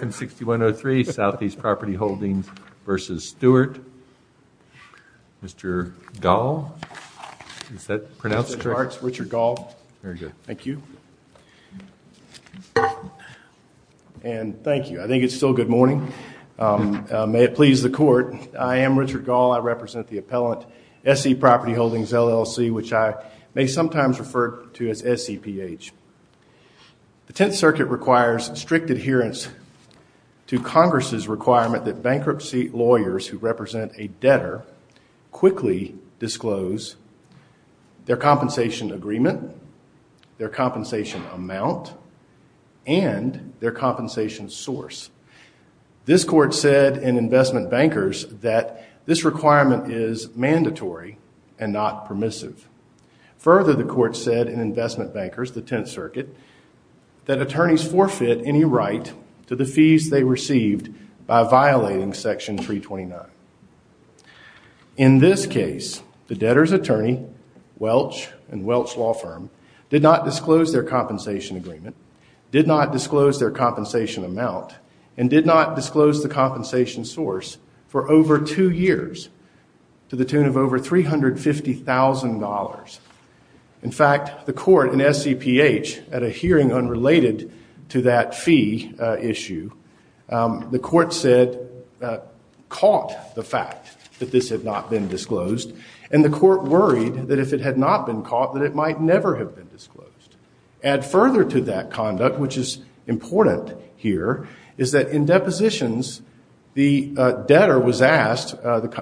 and 6103 Southeast Property Holdings v. Stewart. Mr. Gall, is that pronounced? Richard Gall. Thank you. And thank you. I think it's still good morning. May it please the court, I am Richard Gall. I represent the appellant SE Property Holdings LLC, which I may sometimes refer to as SEPH. The Tenth Circuit requires strict adherence to Congress's requirement that bankruptcy lawyers who represent a debtor quickly disclose their compensation agreement, their compensation amount, and their compensation source. This court said in investment bankers that this requirement is mandatory and not permissive. Further, the court said in investment bankers, the Tenth Circuit, that attorneys forfeit any right to the fees they received by violating Section 329. In this case, the debtor's attorney, Welch and Welch Law Firm, did not disclose their compensation agreement, did not disclose their compensation amount, and did not disclose the compensation source for over two years to the tune of over $350,000. In fact, the court in SEPH, at a hearing unrelated to that fee issue, the court said, caught the fact that this had not been disclosed, and the court worried that if it had not been caught, that it might never have been disclosed. Add further to that conduct, which is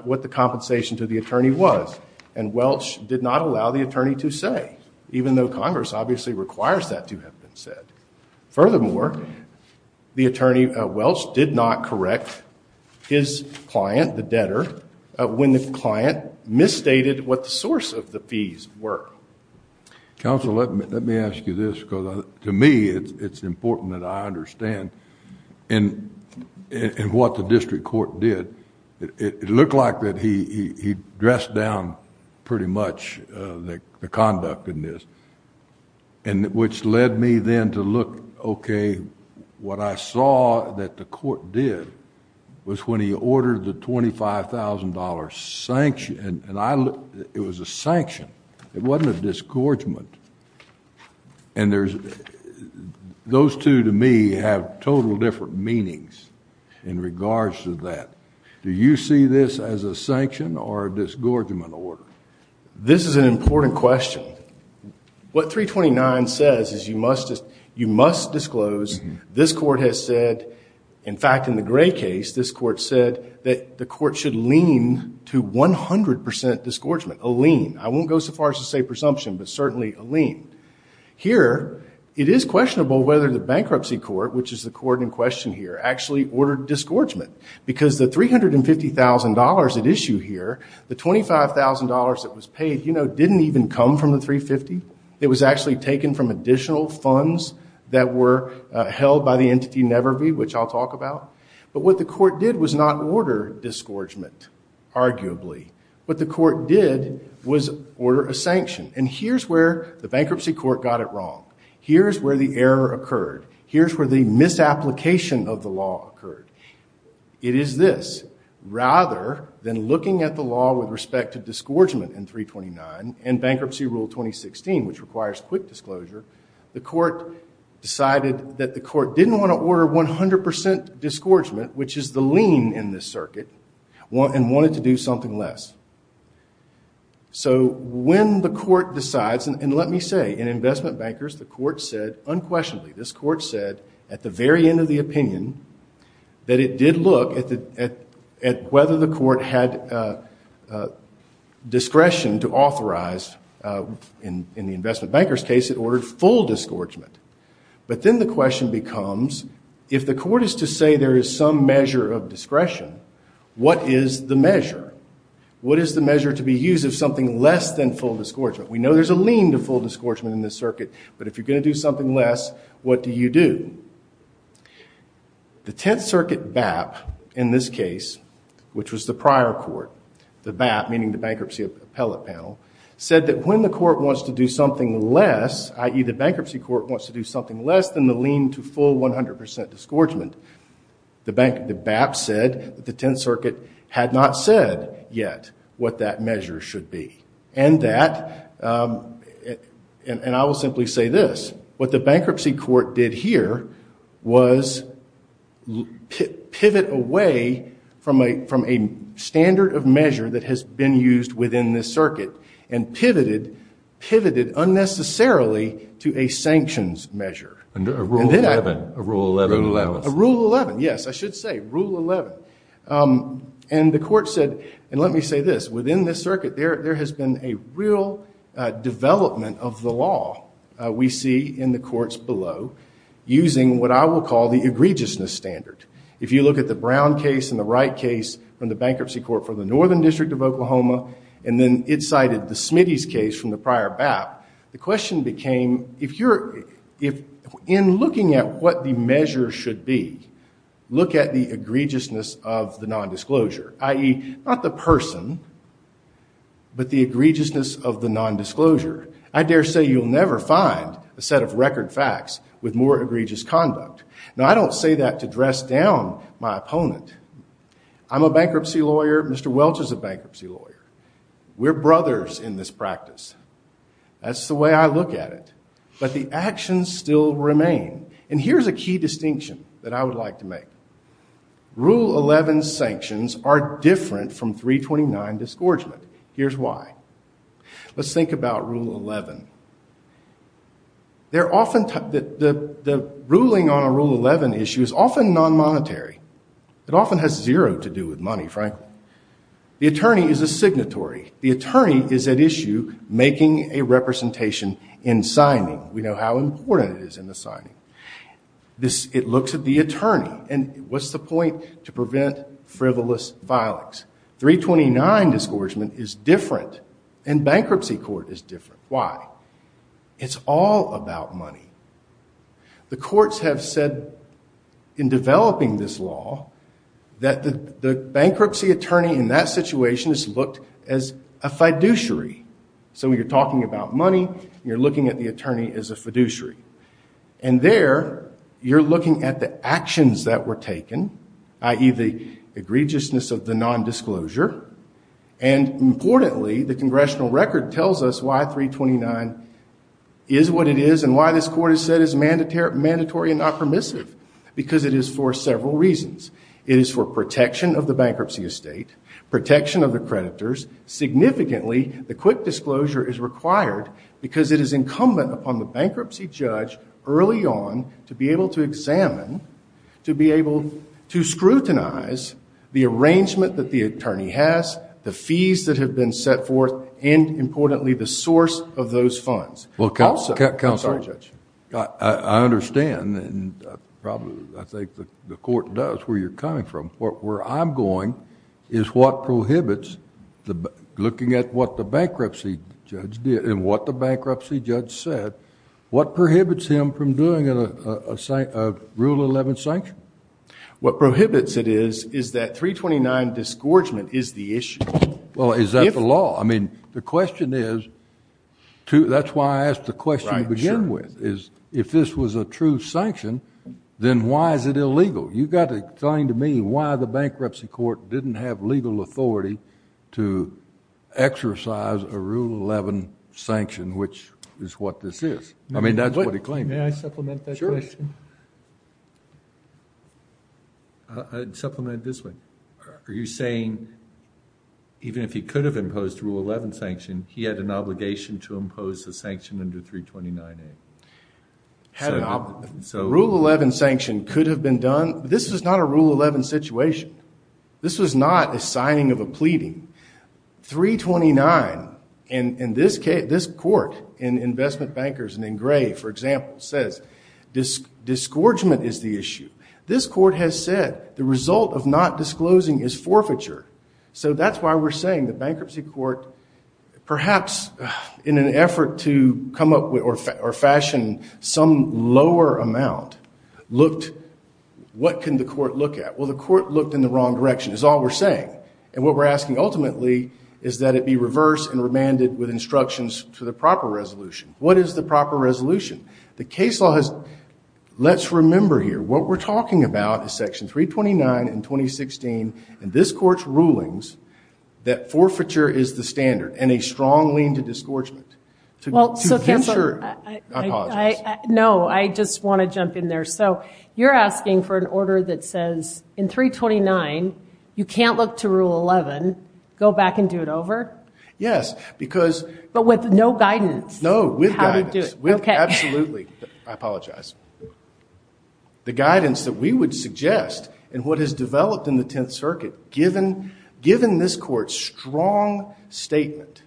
what the compensation to the attorney was, and Welch did not allow the attorney to say, even though Congress obviously requires that to have been said. Furthermore, the attorney, Welch, did not correct his client, the debtor, when the client misstated what the source of the fees were. Counsel, let me ask you this, because to me, it's important that I understand what the district court did. It looked like that he dressed down pretty much the conduct in this, which led me then to look, okay, what I saw that the court did was when he ordered the $25,000 sanction, and it was a total different meanings in regards to that. Do you see this as a sanction or a disgorgement order? This is an important question. What 329 says is you must disclose, this court has said, in fact, in the Gray case, this court said that the court should lean to 100% disgorgement, a lean. I won't go so far as to say presumption, but certainly a lean. Here, it is questionable whether the bankruptcy court, which is the court in question here, actually ordered disgorgement, because the $350,000 at issue here, the $25,000 that was paid, you know, didn't even come from the 350. It was actually taken from additional funds that were held by the entity Nevervee, which I'll talk about. But what the court did was not order disgorgement, arguably. What the court did was order a sanction. And here's where the bankruptcy court got it wrong. Here's where the error occurred. Here's where the misapplication of the law occurred. It is this. Rather than looking at the law with respect to disgorgement in 329 and bankruptcy rule 2016, which requires quick disclosure, the court decided that the court didn't want to order 100% disgorgement, which is the lean in this circuit, and wanted to do something less. So when the court decides, and let me say, in investment bankers, the court said unquestionably, this court said at the very end of the opinion that it did look at whether the court had discretion to authorize, in the investment bankers case, it ordered full disgorgement. But then the question becomes, if the court is to say there is some measure of discretion, what is the measure? What is the measure to be used of something less than full disgorgement? We know there's a lean to full disgorgement in this circuit, but if you're going to do something less, what do you do? The Tenth Circuit BAP, in this case, which was the prior court, the BAP, meaning the Bankruptcy Appellate Panel, said that when the court wants to do something less, i.e. the bankruptcy court wants to do something less than the lean to full 100% disgorgement, the BAP said that the Tenth Circuit had not said yet what that measure should be. And that, and I will simply say this, what the bankruptcy court did here was pivot away from a standard of measure that has been used within this circuit and pivoted unnecessarily to a sanctions measure. A Rule 11. Yes, I should say Rule 11. And the court said, and let me say this, within this circuit there has been a real development of the law we see in the courts below, using what I will call the egregiousness standard. If you look at the Brown case and the Wright case from the Bankruptcy Court for the Northern District of Oklahoma, and then it cited the Smitty's case from the In looking at what the measure should be, look at the egregiousness of the nondisclosure, i.e. not the person, but the egregiousness of the nondisclosure. I dare say you'll never find a set of record facts with more egregious conduct. Now I don't say that to dress down my opponent. I'm a bankruptcy lawyer, Mr. Welch is a bankruptcy lawyer. We're brothers in this practice. That's the way I look at it. But the actions still remain. And here's a key distinction that I would like to make. Rule 11 sanctions are different from 329 disgorgement. Here's why. Let's think about Rule 11. The ruling on a Rule 11 issue is often non-monetary. It often has zero to do with money, frankly. The attorney is a signatory. The attorney is at issue making a representation in how important it is in the signing. It looks at the attorney and what's the point to prevent frivolous violence. 329 disgorgement is different and bankruptcy court is different. Why? It's all about money. The courts have said in developing this law that the bankruptcy attorney in that situation is looked as a fiduciary. So when you're talking about money, you're looking at the attorney as a fiduciary. And there, you're looking at the actions that were taken, i.e. the egregiousness of the non-disclosure. And importantly, the congressional record tells us why 329 is what it is and why this court has said is mandatory and not permissive. Because it is for several reasons. It is for protection of the bankruptcy estate, protection of the creditors, significantly the quick disclosure is required because it is incumbent upon the bankruptcy judge early on to be able to examine, to be able to scrutinize the arrangement that the attorney has, the fees that have been set forth, and importantly, the source of those funds. Also, I'm sorry, Judge. Well, counsel, I understand and probably I think the court does where you're coming from. Where I'm going is what prohibits, looking at what the bankruptcy judge did and what the bankruptcy judge said, what prohibits him from doing a Rule 11 sanction? What prohibits it is, is that 329 disgorgement is the issue. Well, is that the law? I mean, the question is, that's why I asked the question to begin with, is if this was a true sanction, then why is it illegal? You've got to explain to me why the bankruptcy court didn't have legal authority to exercise a Rule 11 sanction, which is what this is. I mean, that's what he claimed. May I supplement that question? Sure. Supplement it this way. Are you saying even if he could have imposed a Rule 11 sanction, he had an obligation to impose a sanction under 329A? Had an obligation. A Rule 11 sanction could have been done, but this was not a Rule 11 situation. This was not a signing of a pleading. 329, and this court in Investment Bankers and in Gray, for example, says disgorgement is the issue. This court has said the result of not disclosing is forfeiture. So that's why we're saying the bankruptcy court, perhaps in an effort to come up with or fashion some lower amount, looked, what can the court look at? Well, the court looked in the wrong direction, is all we're saying. And what we're asking ultimately is that it be reversed and remanded with instructions to the proper resolution. What is the proper resolution? The case law has, let's remember here, what we're talking about is Section 329 in 2016, and this court's rulings that forfeiture is the standard and a strong lean to disgorgement. Well, I know. I just want to jump in there. So you're asking for an order that says in 329, you can't look to Rule 11, go back and do it over? Yes. But with no guidance. No, with guidance. Absolutely. I apologize. The guidance that we would suggest and what has developed in the Tenth Circuit, given this court's strong statement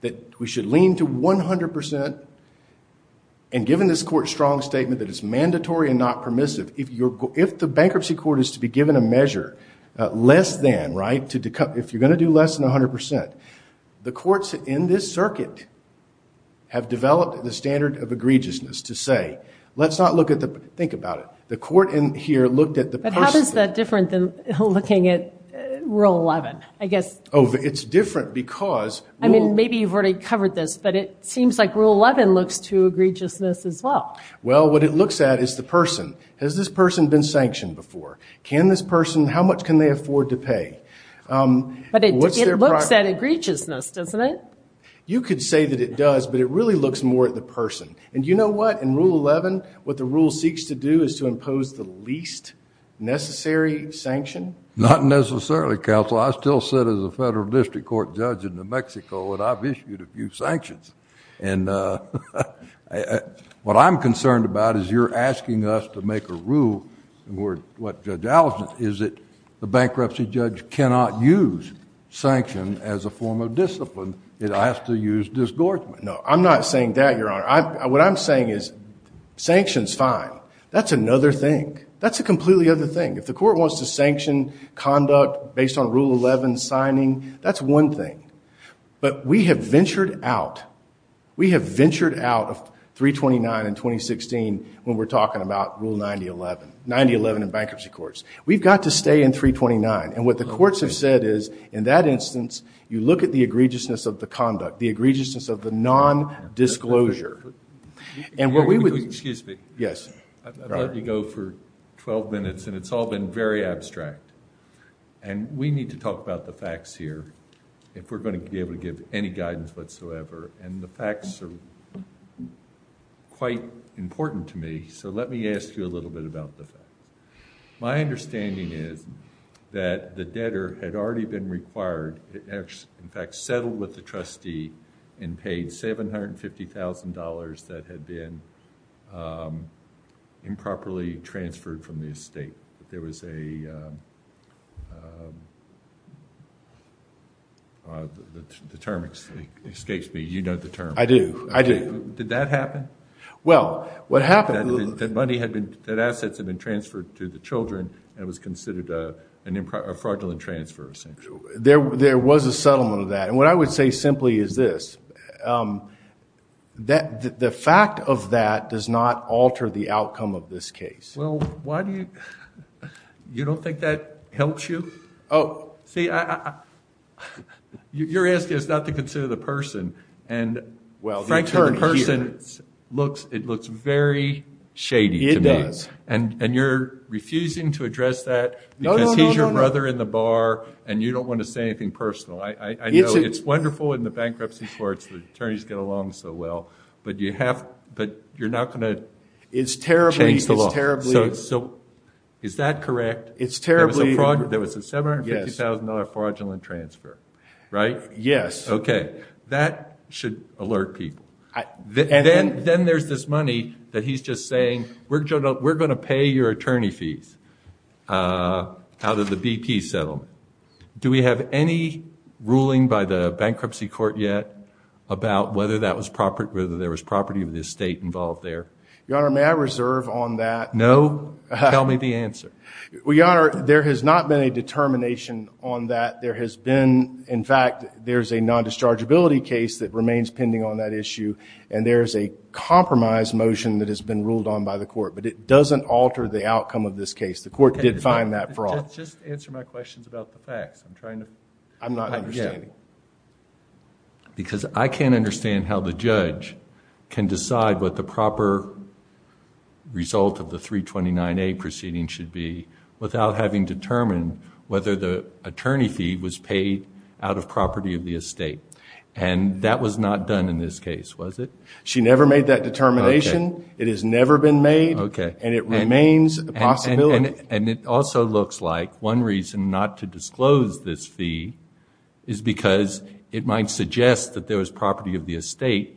that we should lean to 100%, and given this court's strong statement that it's mandatory and not permissive, if the bankruptcy court is to be given a measure less than, right, if you're going to do less than 100%, the courts in this circuit have developed the standard of egregiousness to say, let's not look at the, think about it, the court in here looked at the person. But how is that different than looking at Rule 11, I guess? Oh, it's different because. I mean, maybe you've already covered this, but it seems like Rule 11 looks to egregiousness as well. Well, what it looks at is the person. Has this person been sanctioned before? Can this person, how much can they afford to pay? But it looks at egregiousness, doesn't it? You could say that it does, but it really looks more at the person. And you know what? In Rule 11, what the rule seeks to do is to impose the least necessary sanction. Not necessarily, counsel. I still sit as a federal district court judge in New Mexico, and I've issued a few sanctions. And what I'm concerned about is you're asking us to make a rule, and what Judge Allerton is, that the bankruptcy judge cannot use sanction as a form of discipline. It has to use disgorgement. No, I'm not saying that, Your Honor. What I'm saying is sanctions, fine. That's another thing. That's a completely other thing. If the court wants to sanction conduct based on Rule 11 signing, that's one thing. But we have ventured out. We have ventured out of 329 in 2016 when we're talking about Rule 9011, 9011 in bankruptcy courts. We've got to stay in 329. And what the courts have said is, in that instance, you look at the egregiousness of the conduct, the egregiousness of the nondisclosure. Excuse me. Yes. I've let you go for 12 minutes, and it's all been very abstract. And we need to talk about the facts here if we're going to be able to give any guidance whatsoever. And the facts are quite important to me, so let me ask you a little bit about the facts. My understanding is that the debtor had already been required, in fact, settled with the trustee and paid $750,000 that had been improperly transferred from the estate. There was a, the term escapes me. You know the term. I do, I do. Did that happen? Well, what happened. That money had been, that assets had been transferred to the children and was considered a fraudulent transfer, essentially. There was a settlement of that. And what I would say simply is this. The fact of that does not alter the outcome of this case. Well, why do you, you don't think that helps you? Oh. See, you're asking us not to consider the person. And frankly, the person looks, it looks very shady to me. It does. And you're refusing to address that because he's your brother in the bar and you don't want to say anything personal. I know it's wonderful in the bankruptcy courts, the attorneys get along so well, but you have, but you're not going to change the law. It's terribly, it's terribly. So, is that correct? It's terribly. There was a $750,000 fraudulent transfer, right? Yes. Okay. That should alert people. Then there's this money that he's just saying, we're going to pay your attorney fees out of the BP settlement. Do we have any ruling by the bankruptcy court yet about whether there was property of the estate involved there? Your Honor, may I reserve on that? No. Tell me the answer. Well, Your Honor, there has not been a determination on that. There has been, in fact, there's a non-dischargeability case that remains pending on that issue and there's a compromise motion that has been ruled on by the court, but it doesn't alter the outcome of this case. The court did find that fraud. Just answer my questions about the facts. I'm trying to... I'm not understanding. Because I can't understand how the judge can decide what the proper result of the 329A proceeding should be without having determined whether the attorney fee was paid out of property of the estate. And that was not done in this case, was it? She never made that determination. It has never been made and it remains a possibility. And it also looks like one reason not to disclose this fee is because it might suggest that there was property of the estate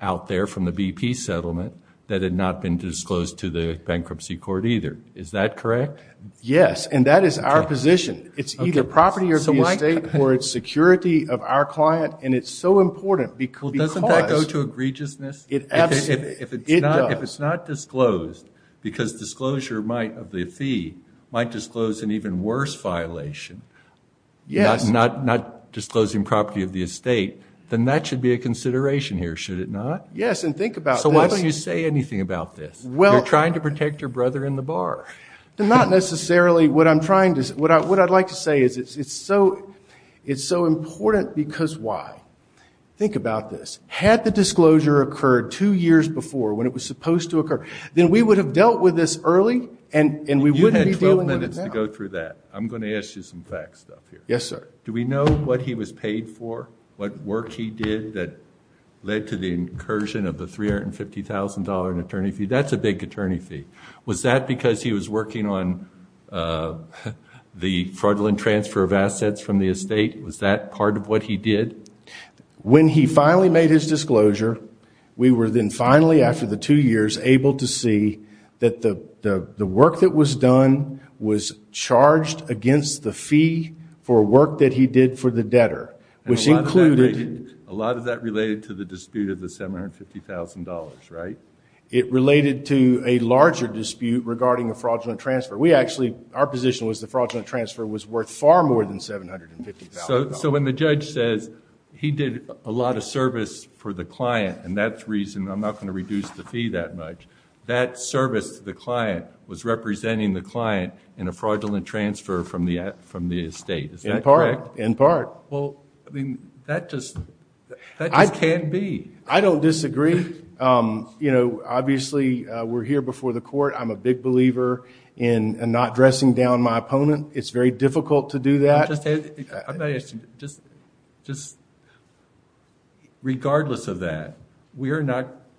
out there from the BP settlement that had not been disclosed to the bankruptcy court either. Is that correct? Yes, and that is our position. It's either property of the estate or it's security of our client and it's so important because... Well, doesn't that go to egregiousness? It does. If it's not disclosed because disclosure of the fee might disclose an even worse violation, not disclosing property of the estate, then that should be a consideration here, should it not? Yes, and think about this. So why don't you say anything about this? You're trying to protect your brother in the bar. Not necessarily. What I'd like to say is it's so important because why? Think about this. Had the disclosure occurred two years before when it was supposed to occur, then we would have dealt with this early and we wouldn't be dealing with it now. You had 12 minutes to go through that. I'm going to ask you some fact stuff here. Yes, sir. Do we know what he was paid for, what work he did that led to the incursion of the $350,000 in attorney fee? That's a big attorney fee. Was that because he was working on the fraudulent transfer of assets from the estate? Was that part of what he did? When he finally made his disclosure, we were then finally, after the two years, able to see that the work that was done was charged against the fee for work that he did for the debtor, which included... A lot of that related to the dispute of the $750,000, right? It related to a larger dispute regarding a fraudulent transfer. Our position was the fraudulent transfer was worth far more than $750,000. When the judge says he did a lot of service for the client, and that's the reason I'm not going to reduce the fee that much, that service to the client was representing the client in a fraudulent transfer from the estate. Is that correct? In part. That just can't be. I don't disagree. Obviously, we're here before the court. I'm a big believer in not dressing down my opponent. It's very difficult to do that. Regardless of that,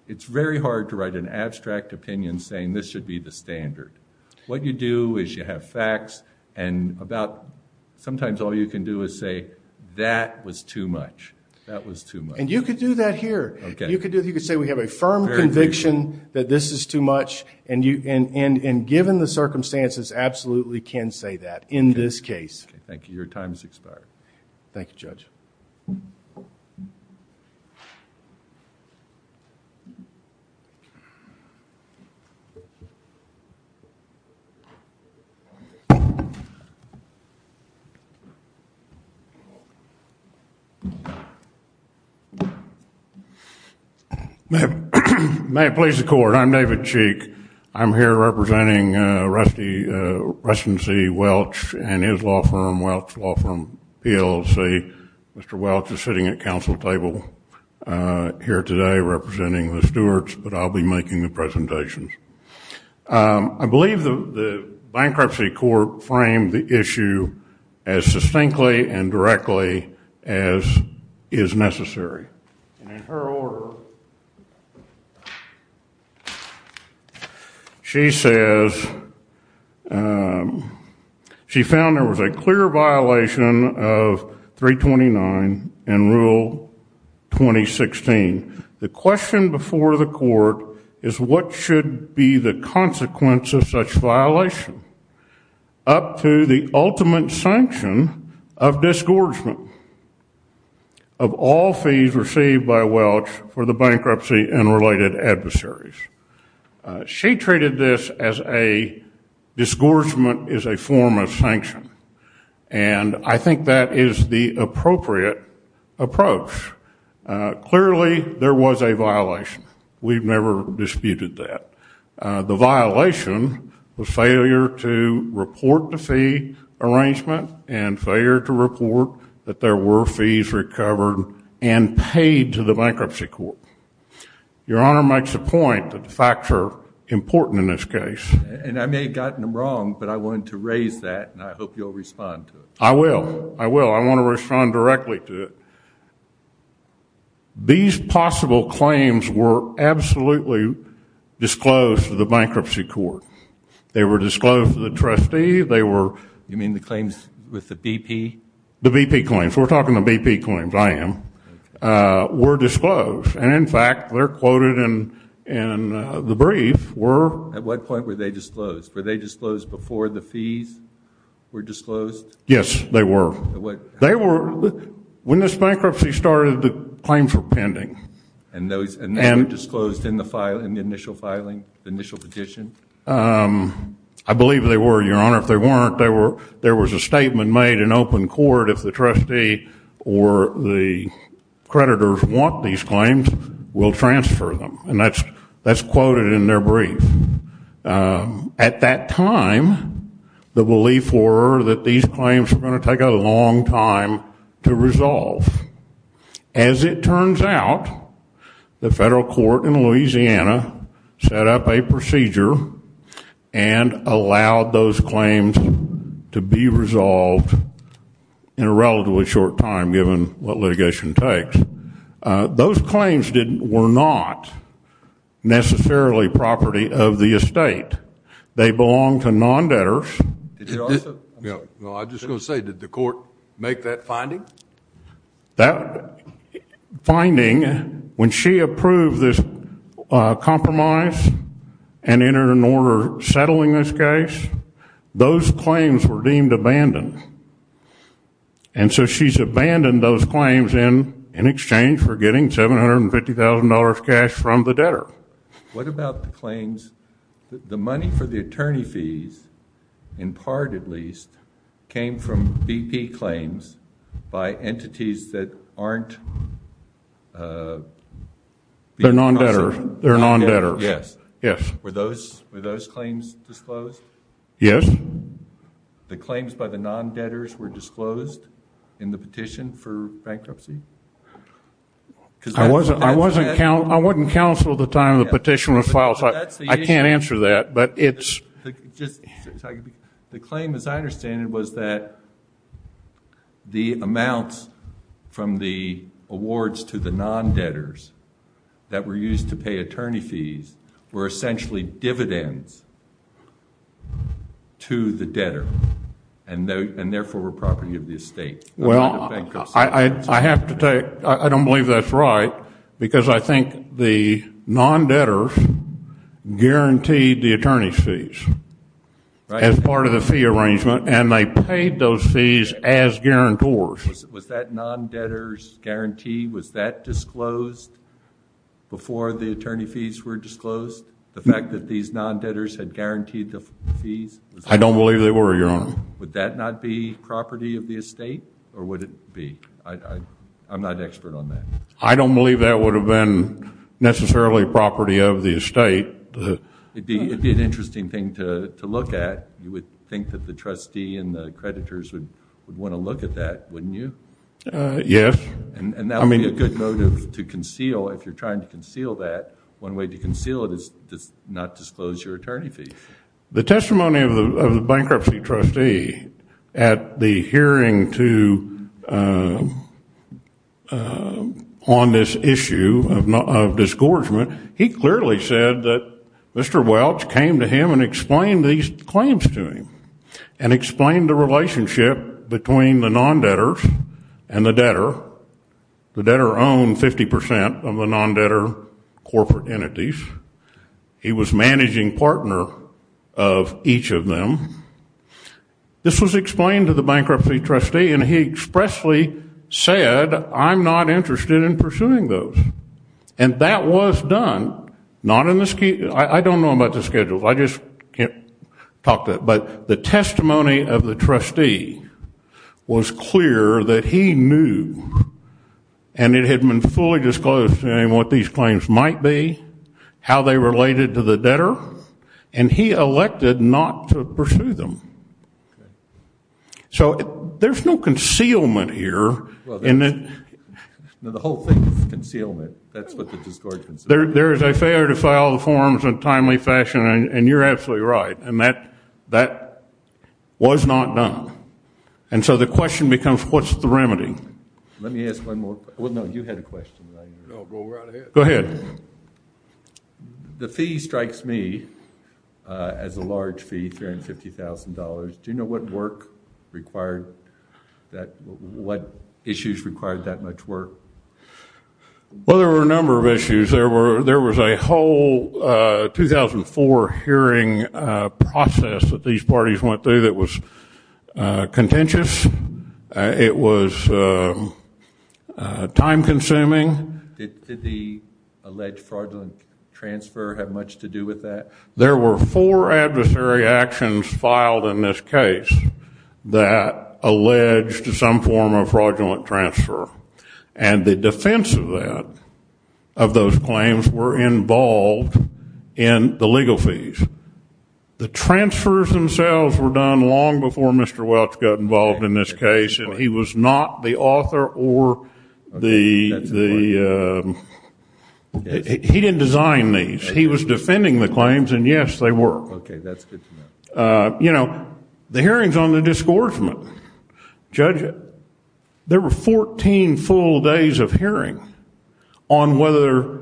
it's very hard to write an abstract opinion saying this should be the standard. What you do is you have facts, and sometimes all you can do is say, that was too much. That was too much. And you could do that here. You could say we have a firm conviction that this is too much, and given the circumstances, absolutely can say that in this case. Thank you. Thank you, Judge. May it please the court. I'm David Cheek. I'm here representing Reston C. Welch and his law firm, Welch Law Firm, PLC. Mr. Welch is sitting at council table here today representing the stewards, but I'll be making the presentations. I believe the bankruptcy court framed the issue as succinctly and directly as is necessary. And in her order, she says, she found there was a clear violation of 329 and Rule 2016. The question before the court is what should be the consequence of such violation up to the ultimate sanction of disgorgement of all fees received by Welch for the bankruptcy and related adversaries. She treated this as a disgorgement is a form of sanction, and I think that is the appropriate approach. Clearly, there was a violation. We've never disputed that. The violation was failure to report the fee arrangement and failure to report that there were fees recovered and paid to the bankruptcy court. Your Honor makes a point that the facts are important in this case. And I may have gotten them wrong, but I wanted to raise that, and I hope you'll respond to it. I will. I will. I want to respond directly to it. These possible claims were absolutely disclosed to the bankruptcy court. They were disclosed to the trustee. You mean the claims with the BP? The BP claims. We're talking the BP claims. I am. Were disclosed, and, in fact, they're quoted in the brief. At what point were they disclosed? Were they disclosed before the fees were disclosed? Yes, they were. When this bankruptcy started, the claims were pending. And they were disclosed in the initial filing, initial petition? I believe they were, Your Honor. If they weren't, there was a statement made in open court, if the trustee or the creditors want these claims, we'll transfer them. And that's quoted in their brief. At that time, the belief were that these claims were going to take a long time to resolve. As it turns out, the federal court in Louisiana set up a procedure and allowed those claims to be resolved in a relatively short time, given what litigation takes. Those claims were not necessarily property of the estate. They belonged to non-debtors. I'm just going to say, did the court make that finding? That finding, when she approved this compromise and entered an order settling this case, those claims were deemed abandoned. And so she's abandoned those claims in exchange for getting $750,000 cash from the debtor. What about the claims? The money for the attorney fees, in part at least, came from BP claims by entities that aren't... They're non-debtors. They're non-debtors. Yes. Were those claims disclosed? Yes. The claims by the non-debtors were disclosed in the petition for bankruptcy? I wasn't counsel at the time the petition was filed, so I can't answer that, but it's... The claim, as I understand it, was that the amounts from the awards to the non-debtors that were used to pay attorney fees were essentially dividends to the debtor, and therefore were property of the estate. Well, I have to tell you, I don't believe that's right, because I think the non-debtors guaranteed the attorney fees as part of the fee arrangement, and they paid those fees as guarantors. Was that non-debtor's guarantee, was that disclosed before the attorney fees were disclosed, the fact that these non-debtors had guaranteed the fees? I don't believe they were, Your Honor. Would that not be property of the estate, or would it be? I'm not an expert on that. I don't believe that would have been necessarily property of the estate. It'd be an interesting thing to look at. You would think that the trustee and the creditors would want to look at that, wouldn't you? Yes. And that would be a good motive to conceal if you're trying to conceal that. One way to conceal it is to not disclose your attorney fees. The testimony of the bankruptcy trustee at the hearing on this issue of disgorgement, he clearly said that Mr. Welch came to him and explained these claims to him and explained the relationship between the non-debtors and the debtor. The debtor owned 50 percent of the non-debtor corporate entities. He was managing partner of each of them. This was explained to the bankruptcy trustee, and he expressly said, I'm not interested in pursuing those. And that was done. I don't know about the schedules. I just can't talk to it. But the testimony of the trustee was clear that he knew, and it had been fully disclosed to him what these claims might be, how they related to the debtor, and he elected not to pursue them. So there's no concealment here. The whole thing is concealment. That's what the disgorgement is. There is a failure to file the forms in a timely fashion, and you're absolutely right, and that was not done. And so the question becomes, what's the remedy? Let me ask one more. Well, no, you had a question. No, go right ahead. Go ahead. The fee strikes me as a large fee, $350,000. Do you know what work required that, what issues required that much work? Well, there were a number of issues. There was a whole 2004 hearing process that these parties went through that was contentious. It was time-consuming. Did the alleged fraudulent transfer have much to do with that? There were four adversary actions filed in this case that alleged some form of fraudulent transfer, and the defense of that, of those claims, were involved in the legal fees. The transfers themselves were done long before Mr. Welch got involved in this case, and he was not the author or the, he didn't design these. He was defending the claims, and, yes, they were. Okay, that's good to know. You know, the hearings on the disgorgement, Judge, there were 14 full days of hearing on whether.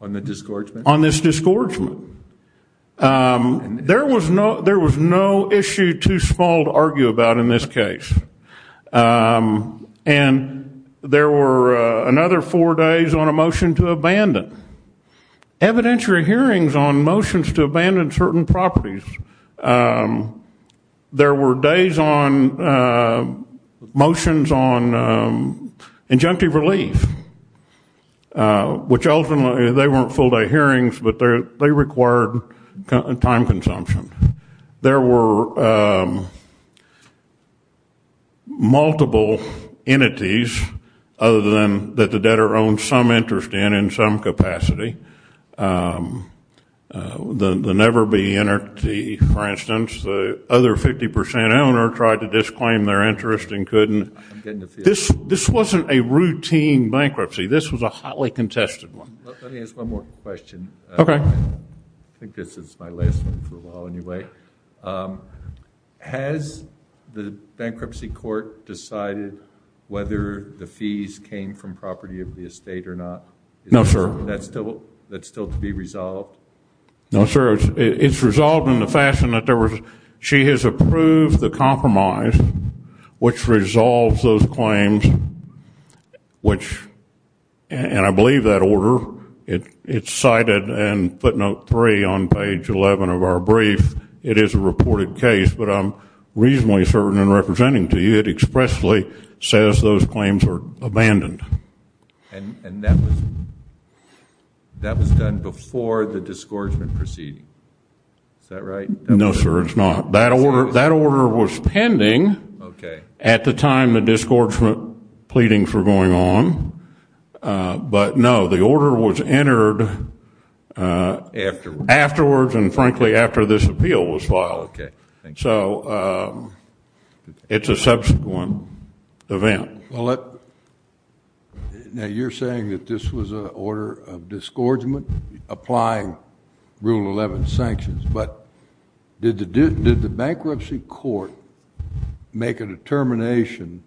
On the disgorgement? On this disgorgement. There was no issue too small to argue about in this case, and there were another four days on a motion to abandon. Evidentiary hearings on motions to abandon certain properties, there were days on motions on injunctive relief, which ultimately, they weren't full-day hearings, but they required time consumption. There were multiple entities other than that the debtor owned some interest in, in some capacity, the never-be-entity, for instance. The other 50% owner tried to disclaim their interest and couldn't. This wasn't a routine bankruptcy. This was a hotly contested one. Let me ask one more question. Okay. I think this is my last one for a while anyway. Has the bankruptcy court decided whether the fees came from property of the estate or not? No, sir. That's still to be resolved? No, sir. It's resolved in the fashion that she has approved the compromise, which resolves those claims, which, and I believe that order, it's cited in footnote three on page 11 of our brief. It is a reported case, but I'm reasonably certain in representing to you it expressly says those claims are abandoned. And that was done before the disgorgement proceeding. Is that right? No, sir, it's not. That order was pending at the time the disgorgement pleadings were going on, but, no, the order was entered afterwards and, frankly, after this appeal was filed. Okay. So it's a subsequent event. Well, now you're saying that this was an order of disgorgement applying Rule 11 sanctions, but did the bankruptcy court make a determination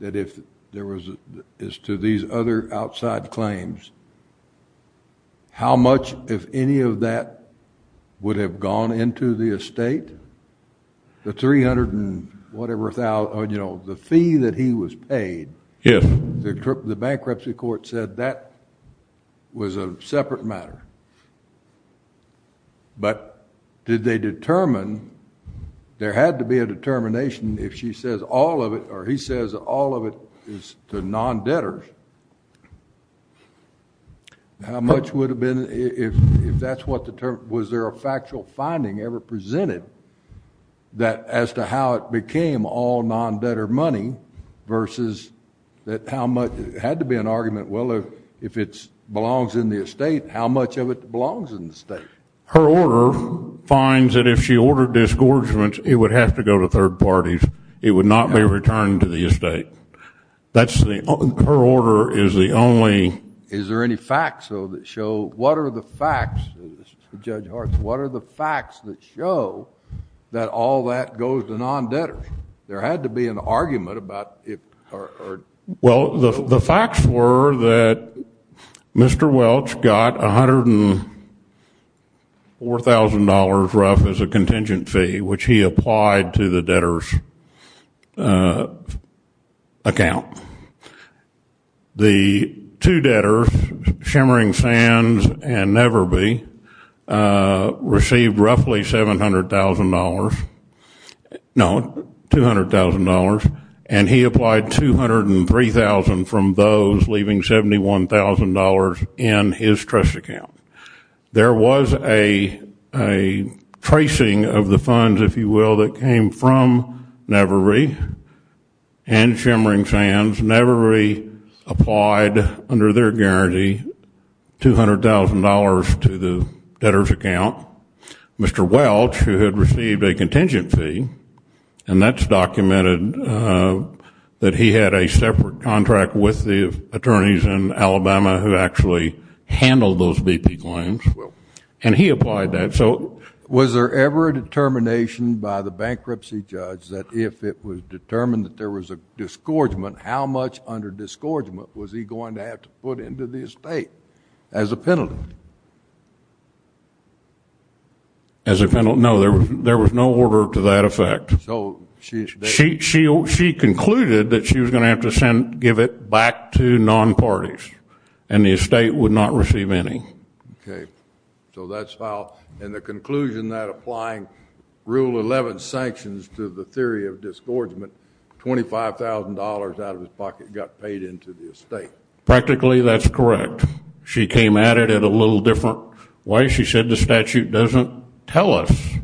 that if there was, as to these other outside claims, how much, if any of that, would have gone into the estate? The 300 and whatever thousand, you know, the fee that he was paid. Yes. The bankruptcy court said that was a separate matter. But did they determine, there had to be a determination if she says all of it, or he says all of it is to non-debtors, how much would have been, if that's what the term, was there a factual finding ever presented that as to how it became all non-debtor money versus that how much, it had to be an argument, well, if it belongs in the estate, how much of it belongs in the estate? Her order finds that if she ordered disgorgement, it would have to go to third parties. It would not be returned to the estate. That's the, her order is the only. Is there any facts, though, that show, what are the facts, Judge Hart, what are the facts that show that all that goes to non-debtors? There had to be an argument about it. Well, the facts were that Mr. Welch got $104,000 rough as a contingent fee, which he applied to the debtors' account. The two debtors, Shimmering Sands and Neverbe, received roughly $700,000, no, $200,000, and he applied $203,000 from those, leaving $71,000 in his trust account. There was a tracing of the funds, if you will, that came from Neverbe and Shimmering Sands. Neverbe applied, under their guarantee, $200,000 to the debtors' account. Mr. Welch, who had received a contingent fee, and that's documented that he had a separate contract with the attorneys in Alabama who actually handled those BP claims, and he applied that. Was there ever a determination by the bankruptcy judge that if it was determined that there was a disgorgement, how much under disgorgement was he going to have to put into the estate as a penalty? As a penalty? No, there was no order to that effect. She concluded that she was going to have to give it back to non-parties, and the estate would not receive any. Okay. So that's how, in the conclusion that applying Rule 11 sanctions to the theory of disgorgement, $25,000 out of his pocket got paid into the estate. Practically, that's correct. She came at it in a little different way. She said the statute doesn't tell us.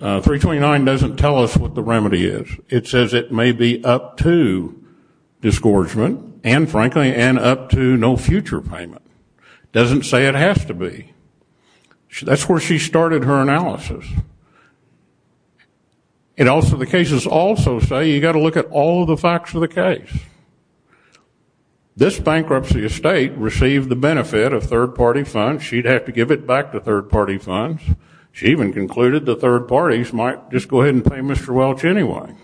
329 doesn't tell us what the remedy is. It says it may be up to disgorgement and, frankly, up to no future payment. It doesn't say it has to be. That's where she started her analysis. The cases also say you've got to look at all the facts of the case. This bankruptcy estate received the benefit of third-party funds. She'd have to give it back to third-party funds. She even concluded the third parties might just go ahead and pay Mr. Welch anyway,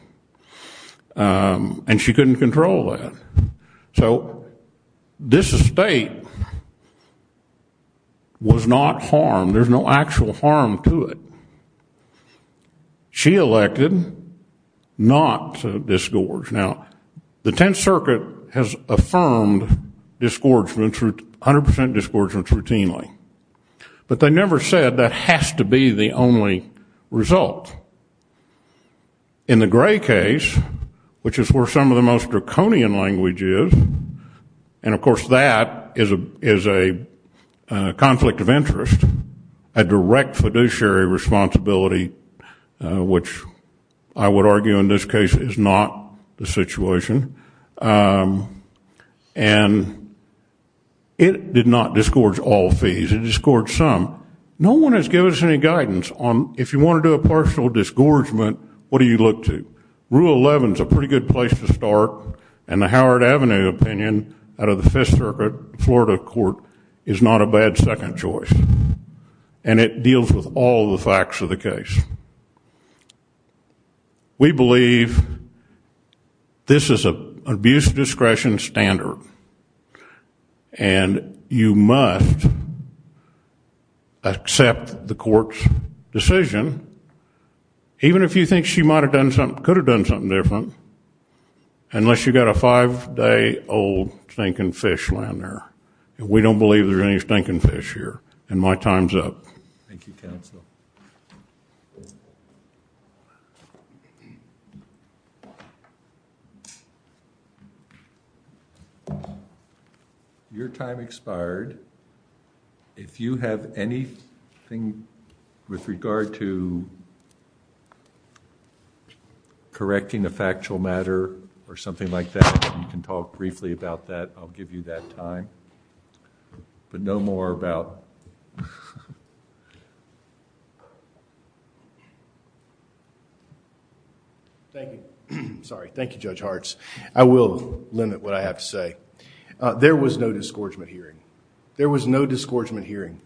and she couldn't control that. So this estate was not harmed. There's no actual harm to it. She elected not to disgorge. Now, the Tenth Circuit has affirmed 100% disgorgement routinely, but they never said that has to be the only result. In the Gray case, which is where some of the most draconian language is, and, of course, that is a conflict of interest, a direct fiduciary responsibility, which I would argue in this case is not the situation, and it did not disgorge all fees. It disgorged some. No one has given us any guidance on if you want to do a partial disgorgement, what do you look to. Rule 11 is a pretty good place to start, and the Howard Avenue opinion out of the Fifth Circuit Florida court is not a bad second choice, and it deals with all the facts of the case. We believe this is an abuse of discretion standard, and you must accept the court's decision, even if you think she could have done something different, unless you've got a five-day-old stinking fish laying there. We don't believe there's any stinking fish here, and my time's up. Thank you, counsel. Your time expired. If you have anything with regard to correcting a factual matter or something like that, you can talk briefly about that. I'll give you that time, but no more about... Thank you. Sorry. Thank you, Judge Hartz. I will limit what I have to say. There was no disgorgement hearing. There was no disgorgement hearing.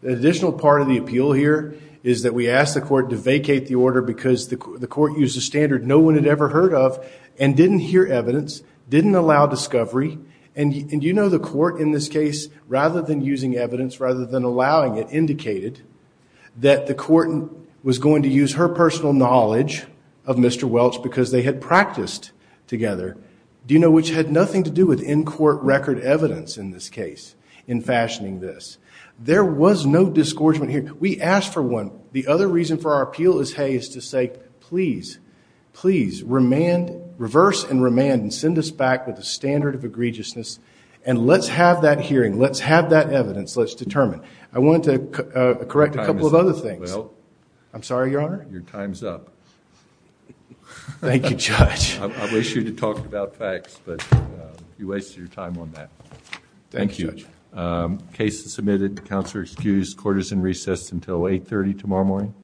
The additional part of the appeal here is that we asked the court to vacate the order because the court used a standard no one had ever heard of, and didn't hear evidence, didn't allow discovery. And you know the court in this case, rather than using evidence, rather than allowing it, indicated that the court was going to use her personal knowledge of Mr. Welch because they had practiced together, which had nothing to do with in-court record evidence in this case in fashioning this. There was no disgorgement hearing. We asked for one. The other reason for our appeal is to say, please, please, reverse and remand and send us back with a standard of egregiousness, and let's have that hearing. Let's have that evidence. Let's determine. I wanted to correct a couple of other things. I'm sorry, Your Honor. Your time is up. Thank you, Judge. I wish you had talked about facts, but you wasted your time on that. Thank you. Thank you, Judge. Case is submitted. Counselor excused. Court is in recess until 8.30 tomorrow morning.